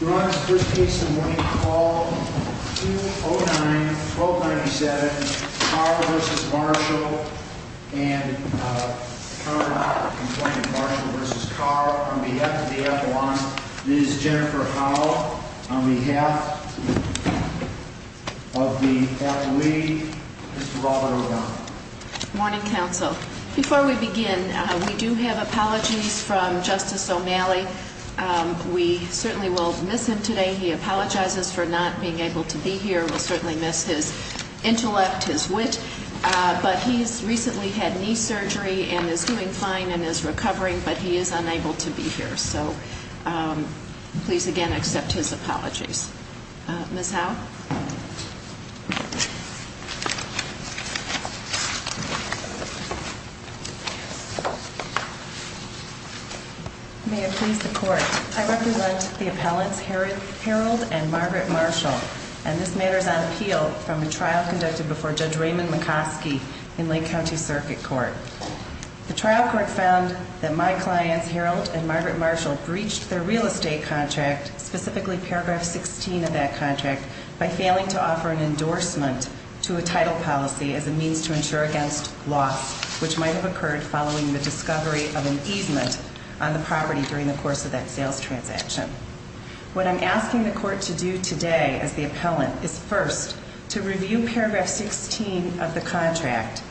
Your Honor's first case in the morning, call 209-1297, Carr v. Marshall, and uh, charge of the complaint, Marshall v. Carr, on behalf of the appellant, Ms. Jennifer Howell, on behalf of the appellee, Mr. Robert O'Donnell. Morning, counsel. Before we begin, we do have apologies from Justice O'Malley. Um, we certainly will miss him today. He apologizes for not being able to be here. We'll certainly miss his intellect, his wit. Uh, but he's recently had knee surgery and is doing fine and is recovering, but he is unable to be here. So, um, please again accept his apologies. Uh, Ms. Howell? May it please the court, I represent the appellants, Harold and Margaret Marshall, and this matter is on appeal from a trial conducted before Judge Raymond McCoskey in Lake County Circuit Court. The trial court found that my clients, Harold and Margaret Marshall, breached their real estate contract, specifically paragraph 16 of that contract, by failing to offer an endorsement to a title policy as a means to insure against loss, which might have occurred following the discovery of an easement on the property during the course of that sales transaction. What I'm asking the court to do today, as the appellant, is first, to review paragraph 16 of the contract,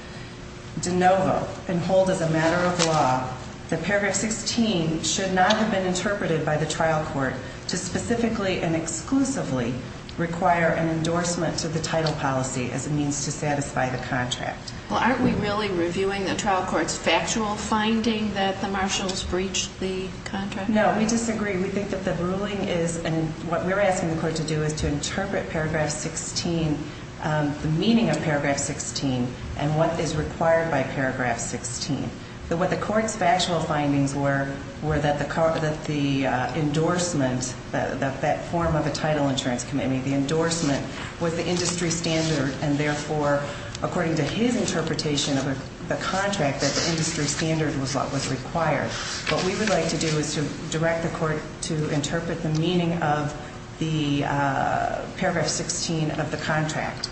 de novo, and hold as a matter of law that paragraph 16 should not have been interpreted by the trial court to specifically and exclusively require an endorsement to the title policy as a means to satisfy the contract. Well, aren't we really reviewing the trial court's factual finding that the Marshalls breached the contract? No, we disagree. We think that the ruling is, and what we're asking the court to do is to interpret paragraph 16, um, the meaning of paragraph 16 and what is required by paragraph 16. What the court's factual findings were, were that the endorsement, that form of a title insurance committee, the endorsement was the industry standard, and therefore, according to his interpretation of the contract, that the industry standard was what was required. What we would like to do is to direct the court to interpret the meaning of the paragraph 16 of the contract.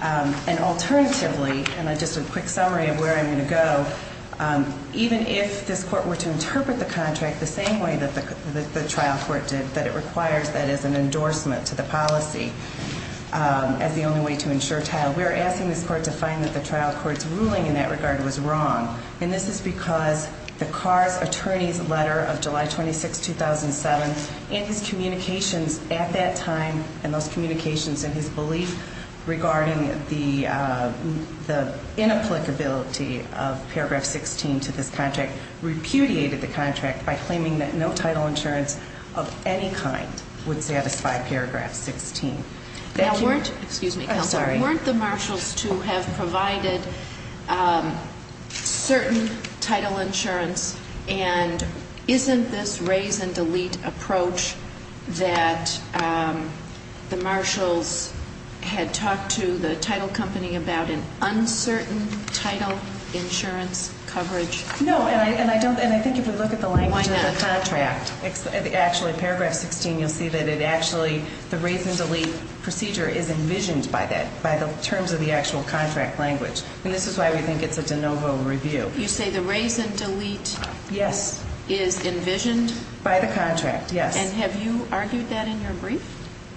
And alternatively, and just a quick summary of where I'm going to go, even if this court were to interpret the contract the same way that the trial court did, that it requires, that is, an endorsement to the policy as the only way to insure title, we're asking this court to find that the trial court's ruling in that regard was wrong. And this is because the Carr's attorney's letter of July 26, 2007, and his communications at that time, and those communications and his belief regarding the, uh, the inapplicability of paragraph 16 to this contract, repudiated the contract by claiming that no title insurance of any kind would satisfy paragraph 16. Thank you. Now, weren't, excuse me counsel. I'm sorry. Weren't the marshals to have provided certain title insurance? And isn't this raise and delete approach that the marshals had talked to the title company about an uncertain title insurance coverage? No, and I don't, and I think if you look at the language of the contract, actually paragraph 16 you'll see that it actually, the raise and delete procedure is envisioned by that, by the terms of the actual contract language. And this is why we think it's a de novo review. You say the raise and delete is envisioned? By the contract, yes. And have you argued that in your brief?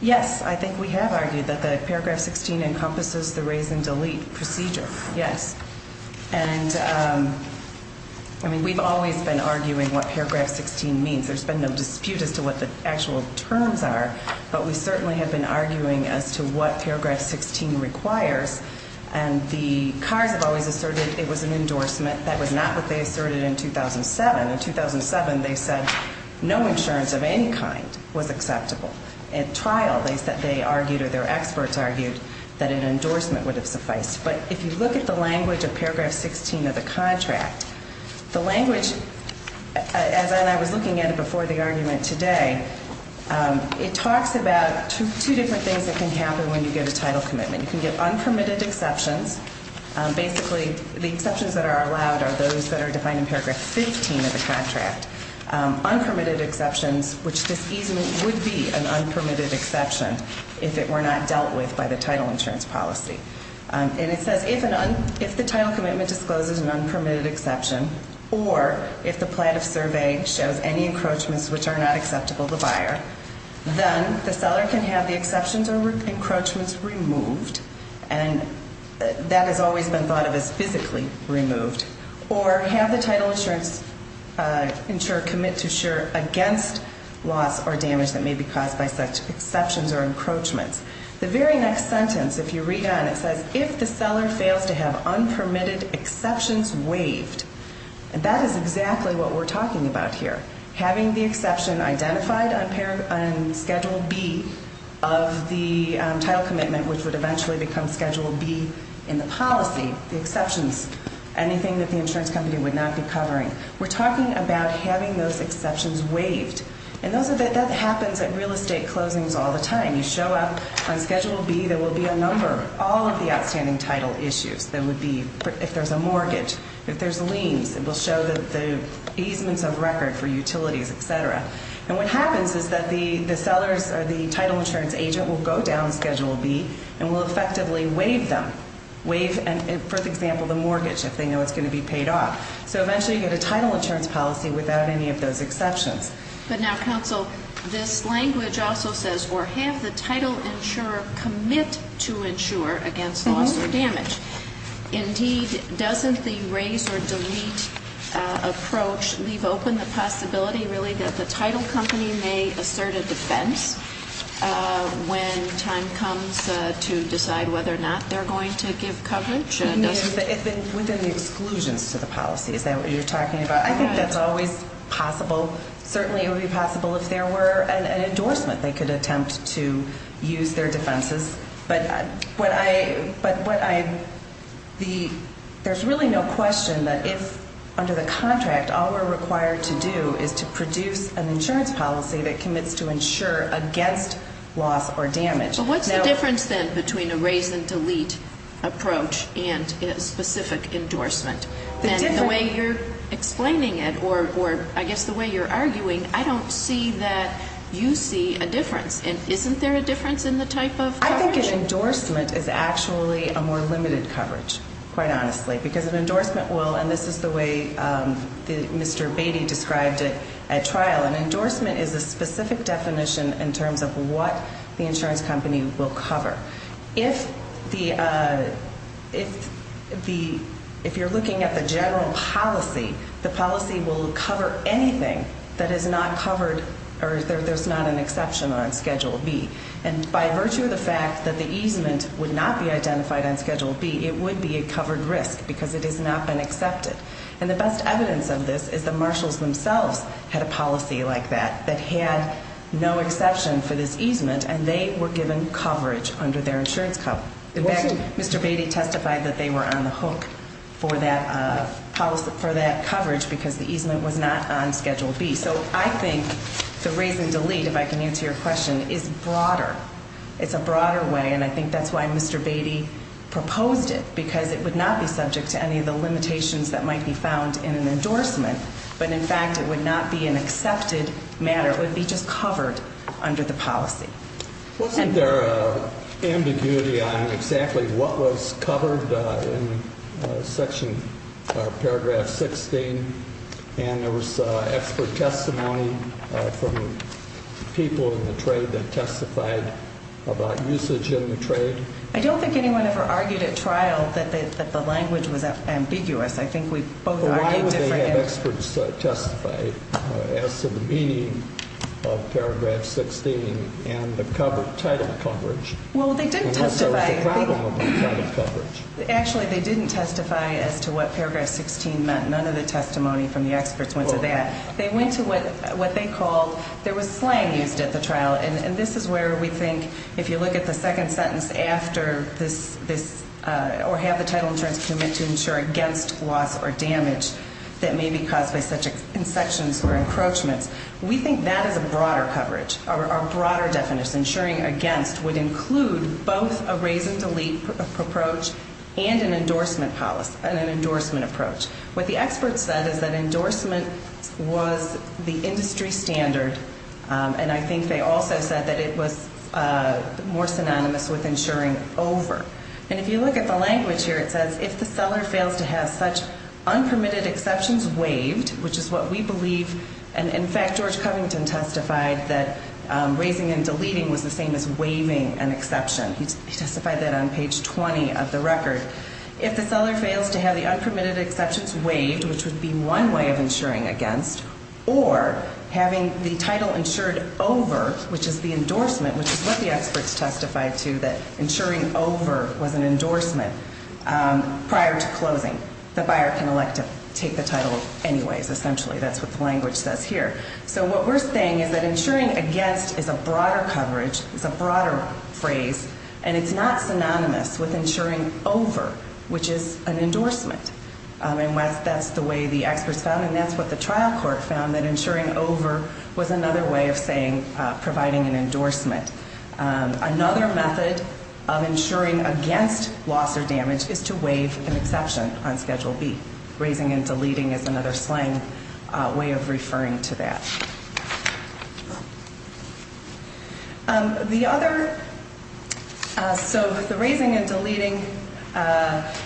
Yes, I think we have argued that the paragraph 16 encompasses the raise and delete procedure, yes. And, um, I mean we've always been arguing what paragraph 16 means. There's been no dispute as to what the actual terms are. But we certainly have been arguing as to what paragraph 16 requires. And the CARS have always asserted it was an endorsement. That was not what they asserted in 2007. In 2007 they said no insurance of any kind was acceptable. At trial they argued or their experts argued that an endorsement would have sufficed. But if you look at the language of paragraph 16 of the contract, the language, as I was looking at it before the argument today, it talks about two different things that can happen when you get a title commitment. You can get unpermitted exceptions. Basically the exceptions that are allowed are those that are defined in paragraph 15 of the contract. Unpermitted exceptions, which this easement would be an unpermitted exception if it were not dealt with by the title insurance policy. And it says if the title commitment discloses an unpermitted exception or if the plan of survey shows any encroachments which are not acceptable to the buyer, then the seller can have the exceptions or encroachments removed. And that has always been thought of as physically removed. Or have the title insurance insurer commit to insure against loss or damage that may be caused by such exceptions or encroachments. The very next sentence, if you read on, it says, if the seller fails to have unpermitted exceptions waived. And that is exactly what we're talking about here. Having the exception identified on Schedule B of the title commitment, which would eventually become Schedule B in the policy, the exceptions, anything that the insurance company would not be covering. We're talking about having those exceptions waived. And that happens at real estate closings all the time. You show up on Schedule B, there will be a number, all of the outstanding title issues. There would be if there's a mortgage, if there's liens, it will show the easements of record for utilities, et cetera. And what happens is that the sellers or the title insurance agent will go down Schedule B and will effectively waive them, waive, for example, the mortgage, if they know it's going to be paid off. So eventually you get a title insurance policy without any of those exceptions. But now, counsel, this language also says, or have the title insurer commit to insure against loss or damage. Indeed, doesn't the raise or delete approach leave open the possibility, really, that the title company may assert a defense when time comes to decide whether or not they're going to give coverage? Within the exclusions to the policy, is that what you're talking about? I think that's always possible. Certainly it would be possible if there were an endorsement. They could attempt to use their defenses. But there's really no question that if under the contract all we're required to do is to produce an insurance policy that commits to insure against loss or damage. What's the difference, then, between a raise and delete approach and a specific endorsement? And the way you're explaining it, or I guess the way you're arguing, I don't see that you see a difference. Isn't there a difference in the type of coverage? I think an endorsement is actually a more limited coverage, quite honestly, because an endorsement will, and this is the way Mr. Beatty described it at trial, an endorsement is a specific definition in terms of what the insurance company will cover. If you're looking at the general policy, the policy will cover anything that is not covered or there's not an exception on Schedule B. And by virtue of the fact that the easement would not be identified on Schedule B, it would be a covered risk because it has not been accepted. And the best evidence of this is the marshals themselves had a policy like that, that had no exception for this easement, and they were given coverage under their insurance cover. In fact, Mr. Beatty testified that they were on the hook for that coverage because the easement was not on Schedule B. So I think the raise and delete, if I can answer your question, is broader. It's a broader way, and I think that's why Mr. Beatty proposed it, because it would not be subject to any of the limitations that might be found in an endorsement, but in fact it would not be an accepted matter. It would be just covered under the policy. Wasn't there ambiguity on exactly what was covered in Section Paragraph 16, and there was expert testimony from people in the trade that testified about usage in the trade? I don't think anyone ever argued at trial that the language was ambiguous. Why would they have experts testify as to the meaning of Paragraph 16 and the title coverage? Well, they didn't testify. Actually, they didn't testify as to what Paragraph 16 meant. None of the testimony from the experts went to that. They went to what they called, there was slang used at the trial, and this is where we think if you look at the second sentence after this, or have the title insurance commit to insure against loss or damage that may be caused by such insections or encroachments, we think that is a broader coverage, a broader definition. Insuring against would include both a raise and delete approach and an endorsement policy, and an endorsement approach. What the experts said is that endorsement was the industry standard, and I think they also said that it was more synonymous with insuring over. And if you look at the language here, it says, if the seller fails to have such unpermitted exceptions waived, which is what we believe, and, in fact, George Covington testified that raising and deleting was the same as waiving an exception. He testified that on page 20 of the record. If the seller fails to have the unpermitted exceptions waived, which would be one way of insuring against, or having the title insured over, which is the endorsement, which is what the experts testified to, that insuring over was an endorsement prior to closing. The buyer can elect to take the title anyways, essentially. That's what the language says here. So what we're saying is that insuring against is a broader coverage, is a broader phrase, and it's not synonymous with insuring over, which is an endorsement. And that's the way the experts found, and that's what the trial court found, that insuring over was another way of saying providing an endorsement. Another method of insuring against loss or damage is to waive an exception on Schedule B. Raising and deleting is another slang way of referring to that. So the raising and deleting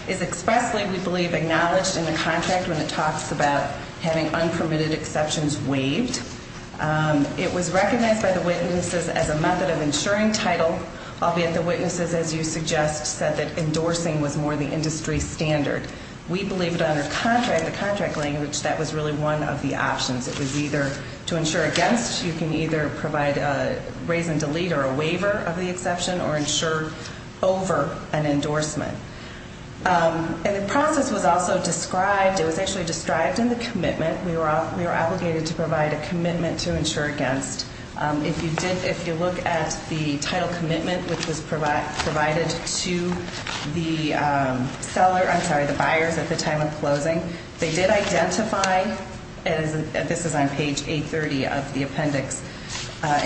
is expressly, we believe, acknowledged in the contract when it talks about having unpermitted exceptions waived. It was recognized by the witnesses as a method of insuring title, albeit the witnesses, as you suggest, said that endorsing was more the industry standard. We believe that under contract, the contract language, that was really one of the options. It was either to insure against, you can either provide a raise and delete or a waiver of the exception or insure over an endorsement. And the process was also described, it was actually described in the commitment. We were obligated to provide a commitment to insure against. If you look at the title commitment, which was provided to the buyer at the time of closing, they did identify, this is on page 830 of the appendix,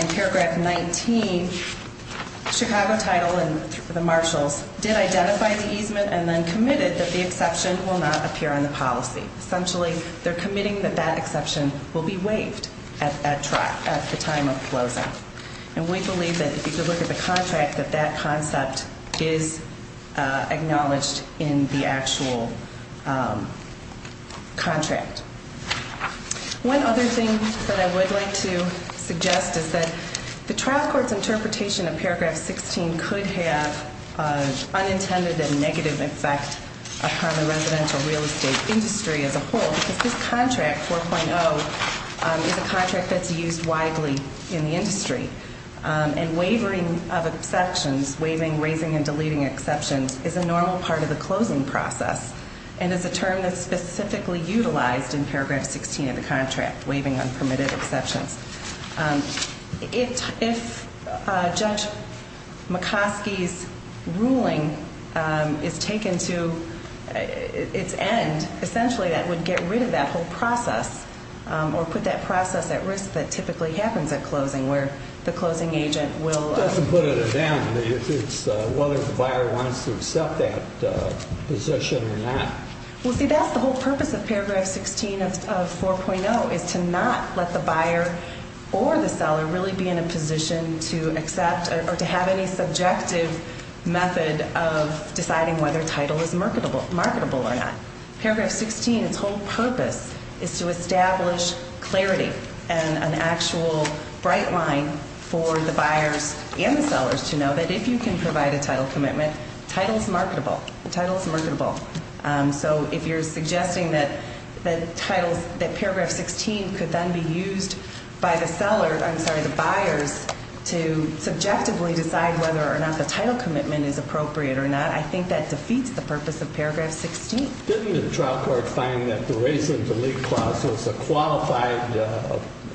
in paragraph 19, Chicago title and the marshals did identify the easement and then committed that the exception will not appear on the policy. Essentially, they're committing that that exception will be waived at the time of closing. And we believe that if you could look at the contract, that that concept is acknowledged in the actual contract. One other thing that I would like to suggest is that the trial court's interpretation of paragraph 16 could have an unintended and negative effect upon the residential real estate industry as a whole because this contract, 4.0, is a contract that's used widely in the industry. And wavering of exceptions, waiving, raising and deleting exceptions, is a normal part of the closing process and is a term that's specifically utilized in paragraph 16 of the contract, waiving unpermitted exceptions. If Judge McCoskey's ruling is taken to its end, essentially that would get rid of that whole process or put that process at risk that typically happens at closing where the closing agent will Doesn't put it at end. It's whether the buyer wants to accept that position or not. Well, see, that's the whole purpose of paragraph 16 of 4.0 is to not let the buyer or the seller really be in a position to accept or to have any subjective method of deciding whether title is marketable or not. Paragraph 16, its whole purpose is to establish clarity and an actual bright line for the buyers and the sellers to know that if you can provide a title commitment, title is marketable. So if you're suggesting that paragraph 16 could then be used by the seller, I'm sorry, the buyers to subjectively decide whether or not the title commitment is appropriate or not, I think that defeats the purpose of paragraph 16. Didn't the trial court find that the raise and delete clause was a qualified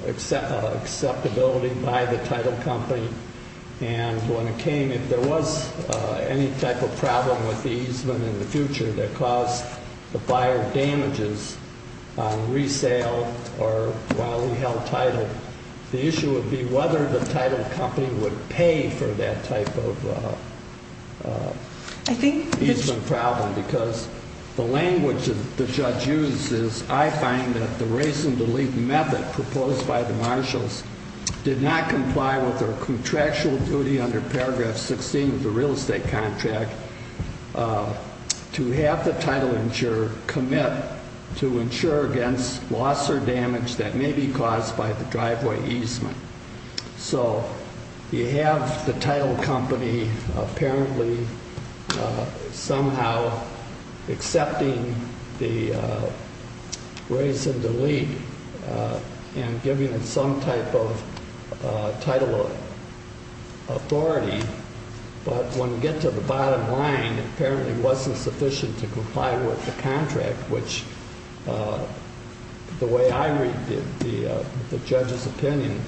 acceptability by the title company? And when it came, if there was any type of problem with the easement in the future that caused the buyer damages on resale or while he held title, the issue would be whether the title company would pay for that type of easement problem. Because the language that the judge used is, I find that the raise and delete method proposed by the marshals did not comply with their contractual duty under paragraph 16 of the real estate contract to have the title insurer commit to insure against loss or damage that may be caused by the driveway easement. So you have the title company apparently somehow accepting the raise and delete and giving it some type of title authority, but when you get to the bottom line, it apparently wasn't sufficient to comply with the contract, which the way I read the judge's opinion,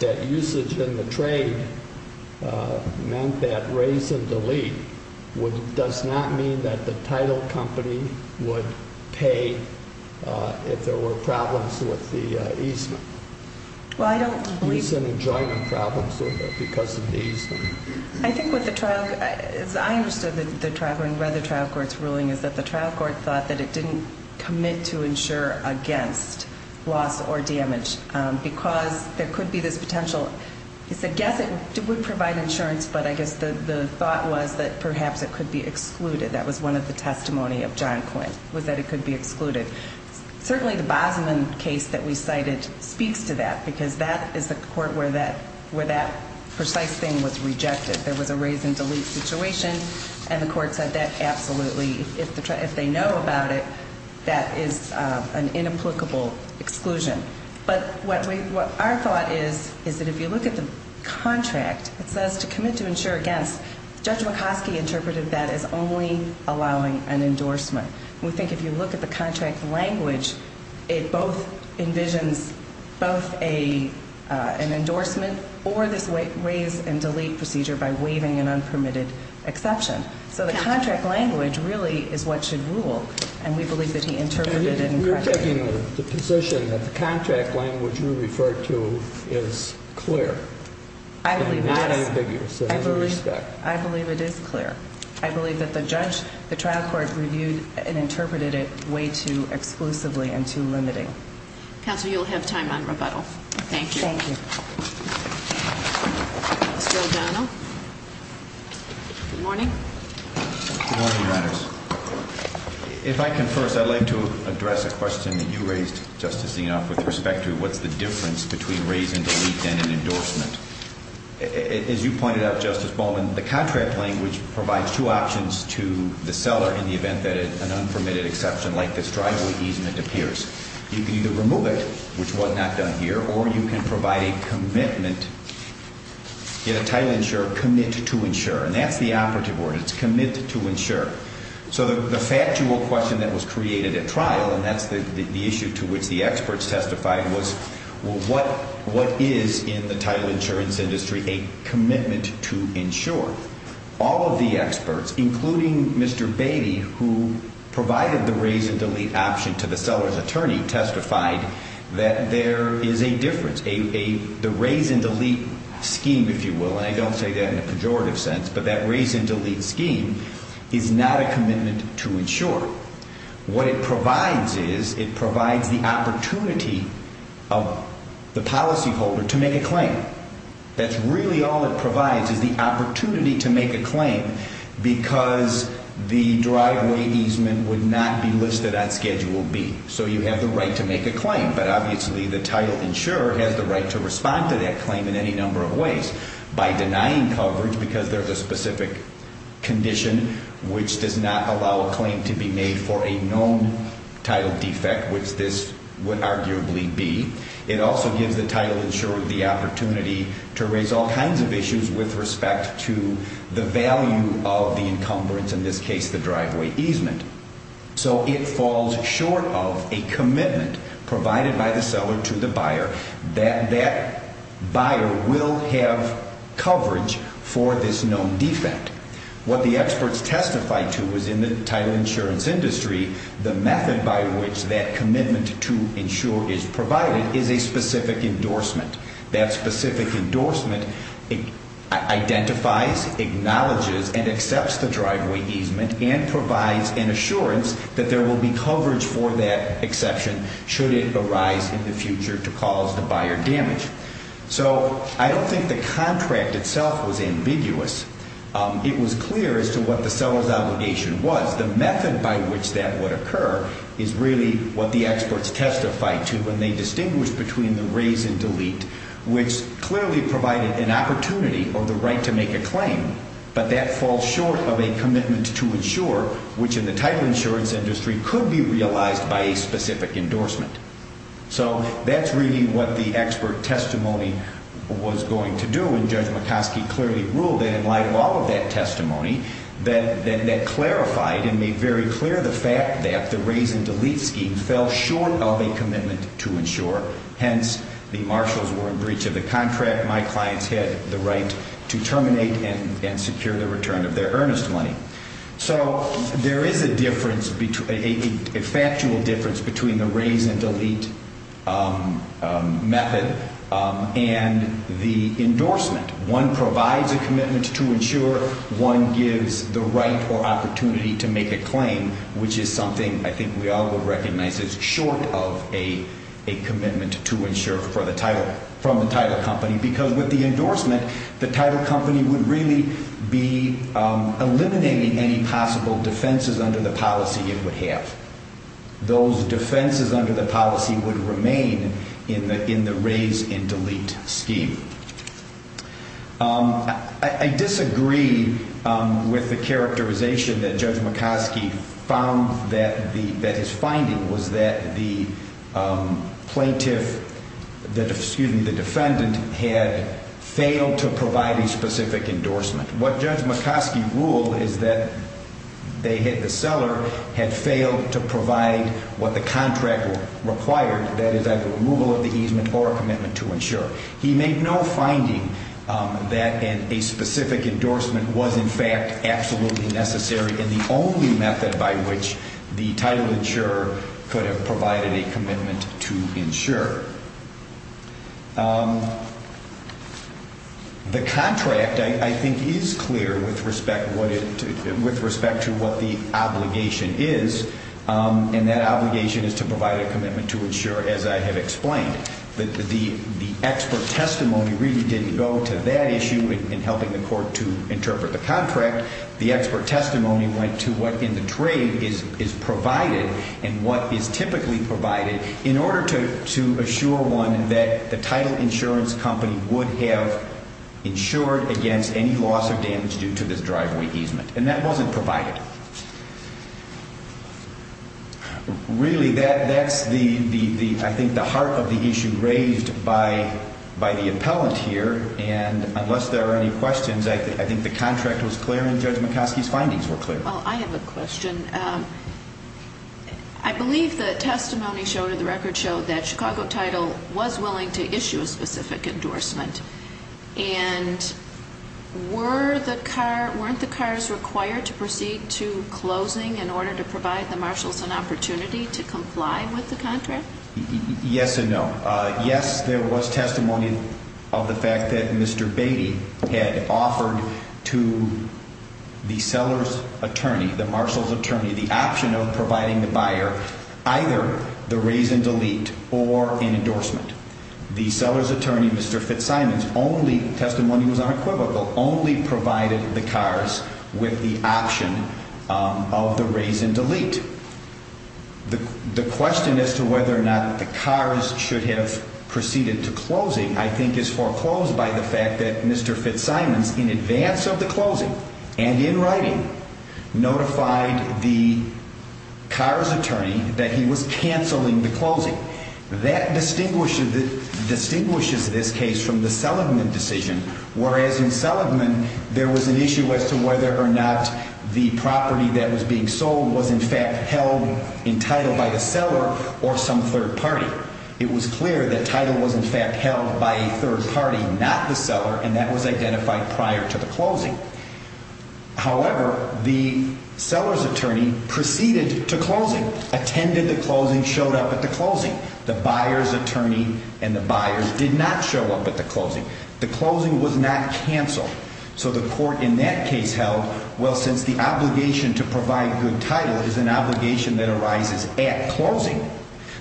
that usage in the trade meant that raise and delete does not mean that the title company would pay if there were problems with the easement. Well, I don't believe that. Use and enjoyment problems because of the easement. I think what the trial, as I understood the trial going by the trial court's ruling, is that the trial court thought that it didn't commit to insure against loss or damage because there could be this potential, it's a guess, it would provide insurance, but I guess the thought was that perhaps it could be excluded. That was one of the testimony of John Quinn, was that it could be excluded. Certainly the Bosman case that we cited speaks to that because that is the court where that precise thing was rejected. There was a raise and delete situation, and the court said that absolutely, if they know about it, that is an inapplicable exclusion. But our thought is that if you look at the contract, it says to commit to insure against. Judge McCoskey interpreted that as only allowing an endorsement. We think if you look at the contract language, it both envisions both an endorsement or this raise and delete procedure by waiving an unpermitted exception. So the contract language really is what should rule, and we believe that he interpreted it incorrectly. You're taking the position that the contract language you referred to is clear and not ambiguous in every respect. I believe it is clear. I believe that the judge, the trial court, reviewed and interpreted it way too exclusively and too limiting. Counsel, you'll have time on rebuttal. Thank you. Thank you. Mr. O'Donnell. Good morning. Good morning, Your Honors. If I can first, I'd like to address a question that you raised, Justice Zinoff, with respect to what's the difference between raise and delete and an endorsement. As you pointed out, Justice Bowman, the contract language provides two options to the seller in the event that an unpermitted exception like this driveway easement appears. You can either remove it, which was not done here, or you can provide a commitment, get a title insurer commit to insure. And that's the operative word. It's commit to insure. So the factual question that was created at trial, and that's the issue to which the experts testified, was what is in the title insurance industry a commitment to insure? All of the experts, including Mr. Beatty, who provided the raise and delete option to the seller's attorney, testified that there is a difference. The raise and delete scheme, if you will, and I don't say that in a pejorative sense, but that raise and delete scheme is not a commitment to insure. What it provides is it provides the opportunity of the policyholder to make a claim. That's really all it provides is the opportunity to make a claim because the driveway easement would not be listed on Schedule B. So you have the right to make a claim, but obviously the title insurer has the right to respond to that claim in any number of ways by denying coverage because there's a specific condition which does not allow a claim to be made for a known title defect, which this would arguably be. It also gives the title insurer the opportunity to raise all kinds of issues with respect to the value of the encumbrance, in this case the driveway easement. So it falls short of a commitment provided by the seller to the buyer that that buyer will have coverage for this known defect. What the experts testified to was in the title insurance industry, the method by which that commitment to insure is provided is a specific endorsement. That specific endorsement identifies, acknowledges, and accepts the driveway easement and provides an assurance that there will be coverage for that exception should it arise in the future to cause the buyer damage. So I don't think the contract itself was ambiguous. It was clear as to what the seller's obligation was. The method by which that would occur is really what the experts testified to when they distinguished between the raise and delete, which clearly provided an opportunity or the right to make a claim, but that falls short of a commitment to insure, which in the title insurance industry could be realized by a specific endorsement. So that's really what the expert testimony was going to do, and Judge McCoskey clearly ruled that in light of all of that testimony, that clarified and made very clear the fact that the raise and delete scheme fell short of a commitment to insure. Hence, the marshals were in breach of the contract. My clients had the right to terminate and secure the return of their earnest money. So there is a difference, a factual difference, between the raise and delete method and the endorsement. One provides a commitment to insure. One gives the right or opportunity to make a claim, which is something I think we all would recognize as short of a commitment to insure from the title company because with the endorsement, the title company would really be eliminating any possible defenses under the policy it would have. Those defenses under the policy would remain in the raise and delete scheme. I disagree with the characterization that Judge McCoskey found that his finding was that the plaintiff, excuse me, the defendant had failed to provide a specific endorsement. What Judge McCoskey ruled is that they hit the seller, had failed to provide what the contract required, that is either removal of the easement or a commitment to insure. He made no finding that a specific endorsement was in fact absolutely necessary and the only method by which the title insurer could have provided a commitment to insure. The contract, I think, is clear with respect to what the obligation is, and that obligation is to provide a commitment to insure, as I have explained. The expert testimony really didn't go to that issue in helping the court to interpret the contract. The expert testimony went to what in the trade is provided and what is typically provided in order to assure one that the title insurance company would have insured against any loss of damage due to this driveway easement, and that wasn't provided. Really, that's the, I think, the heart of the issue raised by the appellant here, and unless there are any questions, I think the contract was clear and Judge McCoskey's findings were clear. Well, I have a question. I believe the testimony showed or the record showed that Chicago Title was willing to issue a specific endorsement, and weren't the cars required to proceed to closing in order to provide the marshals an opportunity to comply with the contract? Yes and no. Yes, there was testimony of the fact that Mr. Beatty had offered to the seller's attorney, the marshal's attorney, the option of providing the buyer either the raise and delete or an endorsement. The seller's attorney, Mr. Fitzsimons, testimony was unequivocal, only provided the cars with the option of the raise and delete. The question as to whether or not the cars should have proceeded to closing, I think, is foreclosed by the fact that Mr. Fitzsimons, in advance of the closing and in writing, notified the car's attorney that he was canceling the closing. That distinguishes this case from the Seligman decision, whereas in Seligman, there was an issue as to whether or not the property that was being sold was, in fact, held entitled by the seller or some third party. It was clear that Title was, in fact, held by a third party, not the seller, and that was identified prior to the closing. However, the seller's attorney proceeded to closing, attended the closing, showed up at the closing. The buyer's attorney and the buyers did not show up at the closing. The closing was not canceled. So the court in that case held, well, since the obligation to provide good title is an obligation that arises at closing,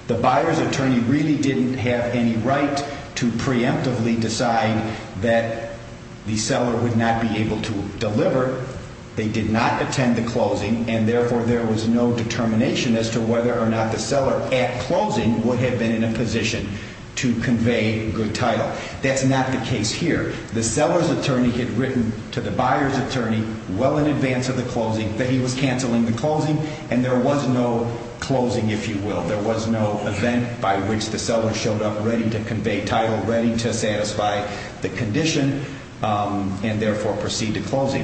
the buyer's attorney really didn't have any right to preemptively decide that the seller would not be able to deliver. They did not attend the closing, and therefore, there was no determination as to whether or not the seller at closing would have been in a position to convey good title. That's not the case here. The seller's attorney had written to the buyer's attorney well in advance of the closing that he was canceling the closing, and there was no closing, if you will. There was no event by which the seller showed up ready to convey title, ready to satisfy the condition, and therefore proceed to closing.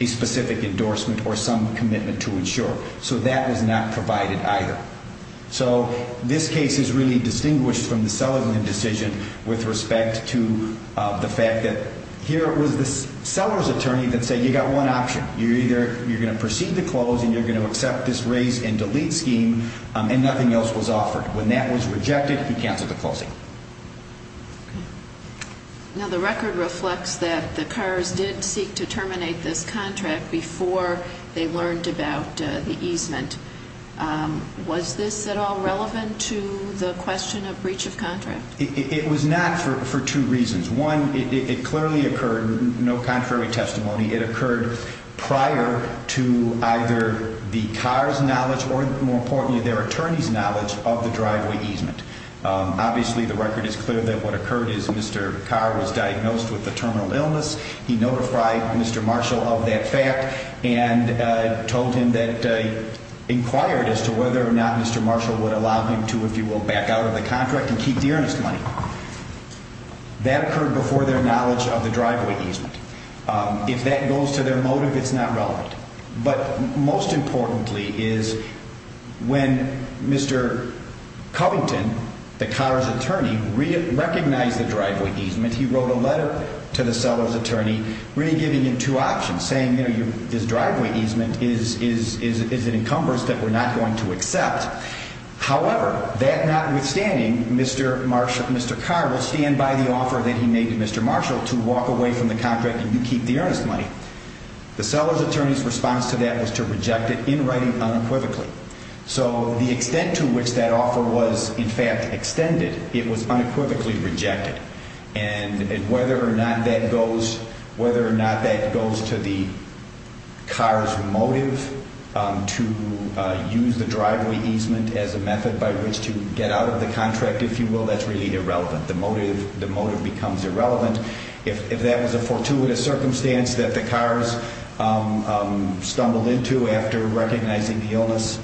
a specific endorsement or some commitment to insure. So that was not provided either. So this case is really distinguished from the Seligman decision with respect to the fact that here it was the seller's attorney that said you got one option. You're either going to proceed to closing, you're going to accept this raise and delete scheme, and nothing else was offered. When that was rejected, he canceled the closing. Now, the record reflects that the cars did seek to terminate this contract before they learned about the easement. Was this at all relevant to the question of breach of contract? It was not for two reasons. One, it clearly occurred, no contrary testimony. It occurred prior to either the car's knowledge or, more importantly, their attorney's knowledge of the driveway easement. Obviously, the record is clear that what occurred is Mr. Carr was diagnosed with a terminal illness. He notified Mr. Marshall of that fact and told him that he inquired as to whether or not Mr. Marshall would allow him to, if you will, back out of the contract and keep the earnest money. That occurred before their knowledge of the driveway easement. If that goes to their motive, it's not relevant. But most importantly is when Mr. Covington, the car's attorney, recognized the driveway easement, he wrote a letter to the seller's attorney really giving him two options, saying, you know, this driveway easement is an encumbrance that we're not going to accept. However, that notwithstanding, Mr. Carr will stand by the offer that he made to Mr. Marshall to walk away from the contract and keep the earnest money. The seller's attorney's response to that was to reject it in writing unequivocally. So the extent to which that offer was, in fact, extended, it was unequivocally rejected. And whether or not that goes to the car's motive to use the driveway easement as a method by which to get out of the contract, if you will, that's really irrelevant. The motive becomes irrelevant. If that was a fortuitous circumstance that the cars stumbled into after recognizing the illness,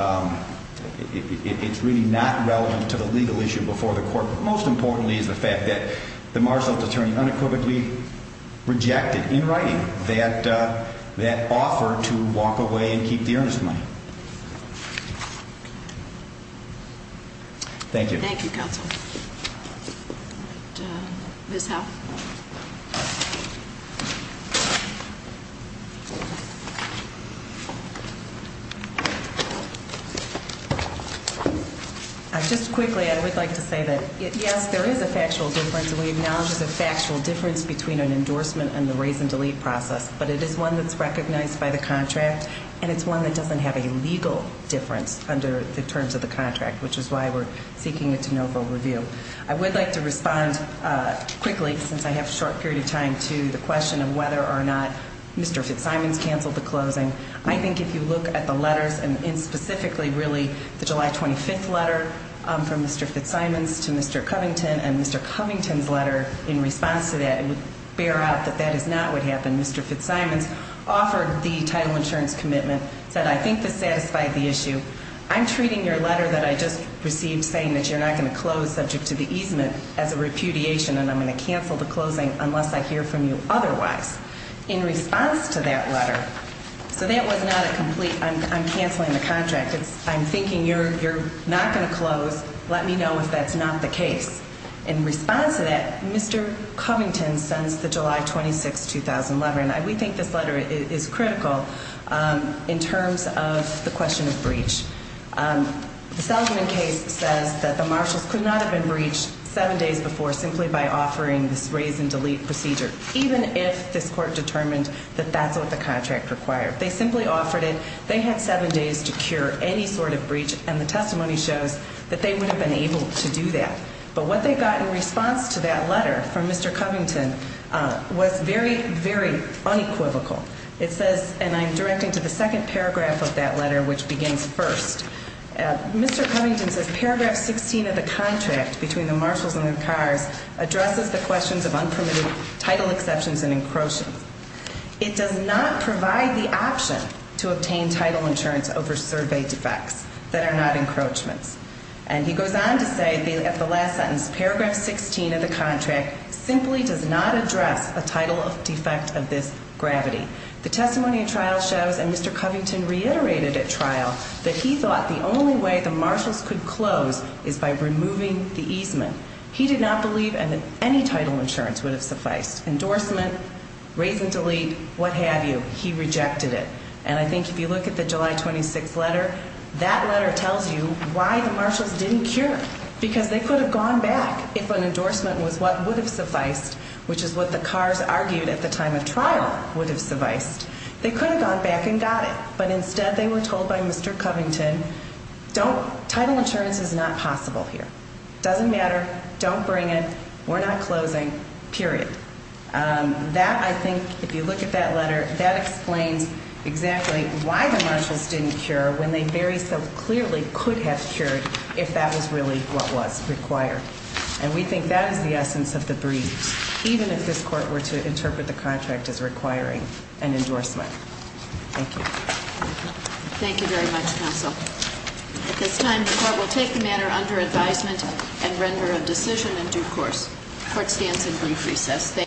it's really not relevant to the legal issue before the court. But most importantly is the fact that the Marshall's attorney unequivocally rejected in writing that offer to walk away and keep the earnest money. Thank you. Thank you, counsel. Ms. Howe. Just quickly, I would like to say that, yes, there is a factual difference, and we acknowledge there's a factual difference between an endorsement and the raise and delete process. But it is one that's recognized by the contract, and it's one that doesn't have a legal difference under the terms of the contract, which is why we're seeking a de novo review. I would like to respond quickly, since I have a short period of time, to the question of whether or not Mr. Fitzsimons canceled the closing. I think if you look at the letters, and specifically, really, the July 25th letter from Mr. Fitzsimons to Mr. Covington and Mr. Covington's letter in response to that, it would bear out that that is not what happened. Mr. Fitzsimons offered the title insurance commitment, said, I think this satisfied the issue. I'm treating your letter that I just received saying that you're not going to close subject to the easement as a repudiation and I'm going to cancel the closing unless I hear from you otherwise. In response to that letter, so that was not a complete, I'm canceling the contract. I'm thinking you're not going to close. Let me know if that's not the case. In response to that, Mr. Covington sends the July 26, 2011. We think this letter is critical in terms of the question of breach. The Seligman case says that the marshals could not have been breached seven days before simply by offering this raise and delete procedure, even if this court determined that that's what the contract required. They simply offered it. They had seven days to cure any sort of breach, and the testimony shows that they would have been able to do that. But what they got in response to that letter from Mr. Covington was very, very unequivocal. It says, and I'm directing to the second paragraph of that letter, which begins first. Mr. Covington says paragraph 16 of the contract between the marshals and the cars addresses the questions of unpermitted title exceptions and encroachments. It does not provide the option to obtain title insurance over survey defects that are not encroachments. And he goes on to say at the last sentence, paragraph 16 of the contract simply does not address a title defect of this gravity. The testimony of trial shows, and Mr. Covington reiterated at trial, that he thought the only way the marshals could close is by removing the easement. He did not believe that any title insurance would have sufficed. Endorsement, raise and delete, what have you, he rejected it. And I think if you look at the July 26th letter, that letter tells you why the marshals didn't cure. Because they could have gone back if an endorsement was what would have sufficed, which is what the cars argued at the time of trial would have sufficed. They could have gone back and got it, but instead they were told by Mr. Covington, title insurance is not possible here. It doesn't matter, don't bring it, we're not closing, period. That, I think, if you look at that letter, that explains exactly why the marshals didn't cure when they very so clearly could have cured if that was really what was required. And we think that is the essence of the briefs, even if this court were to interpret the contract as requiring an endorsement. Thank you. Thank you very much, counsel. At this time the court will take the matter under advisement and render a decision in due course. Court stands in brief recess.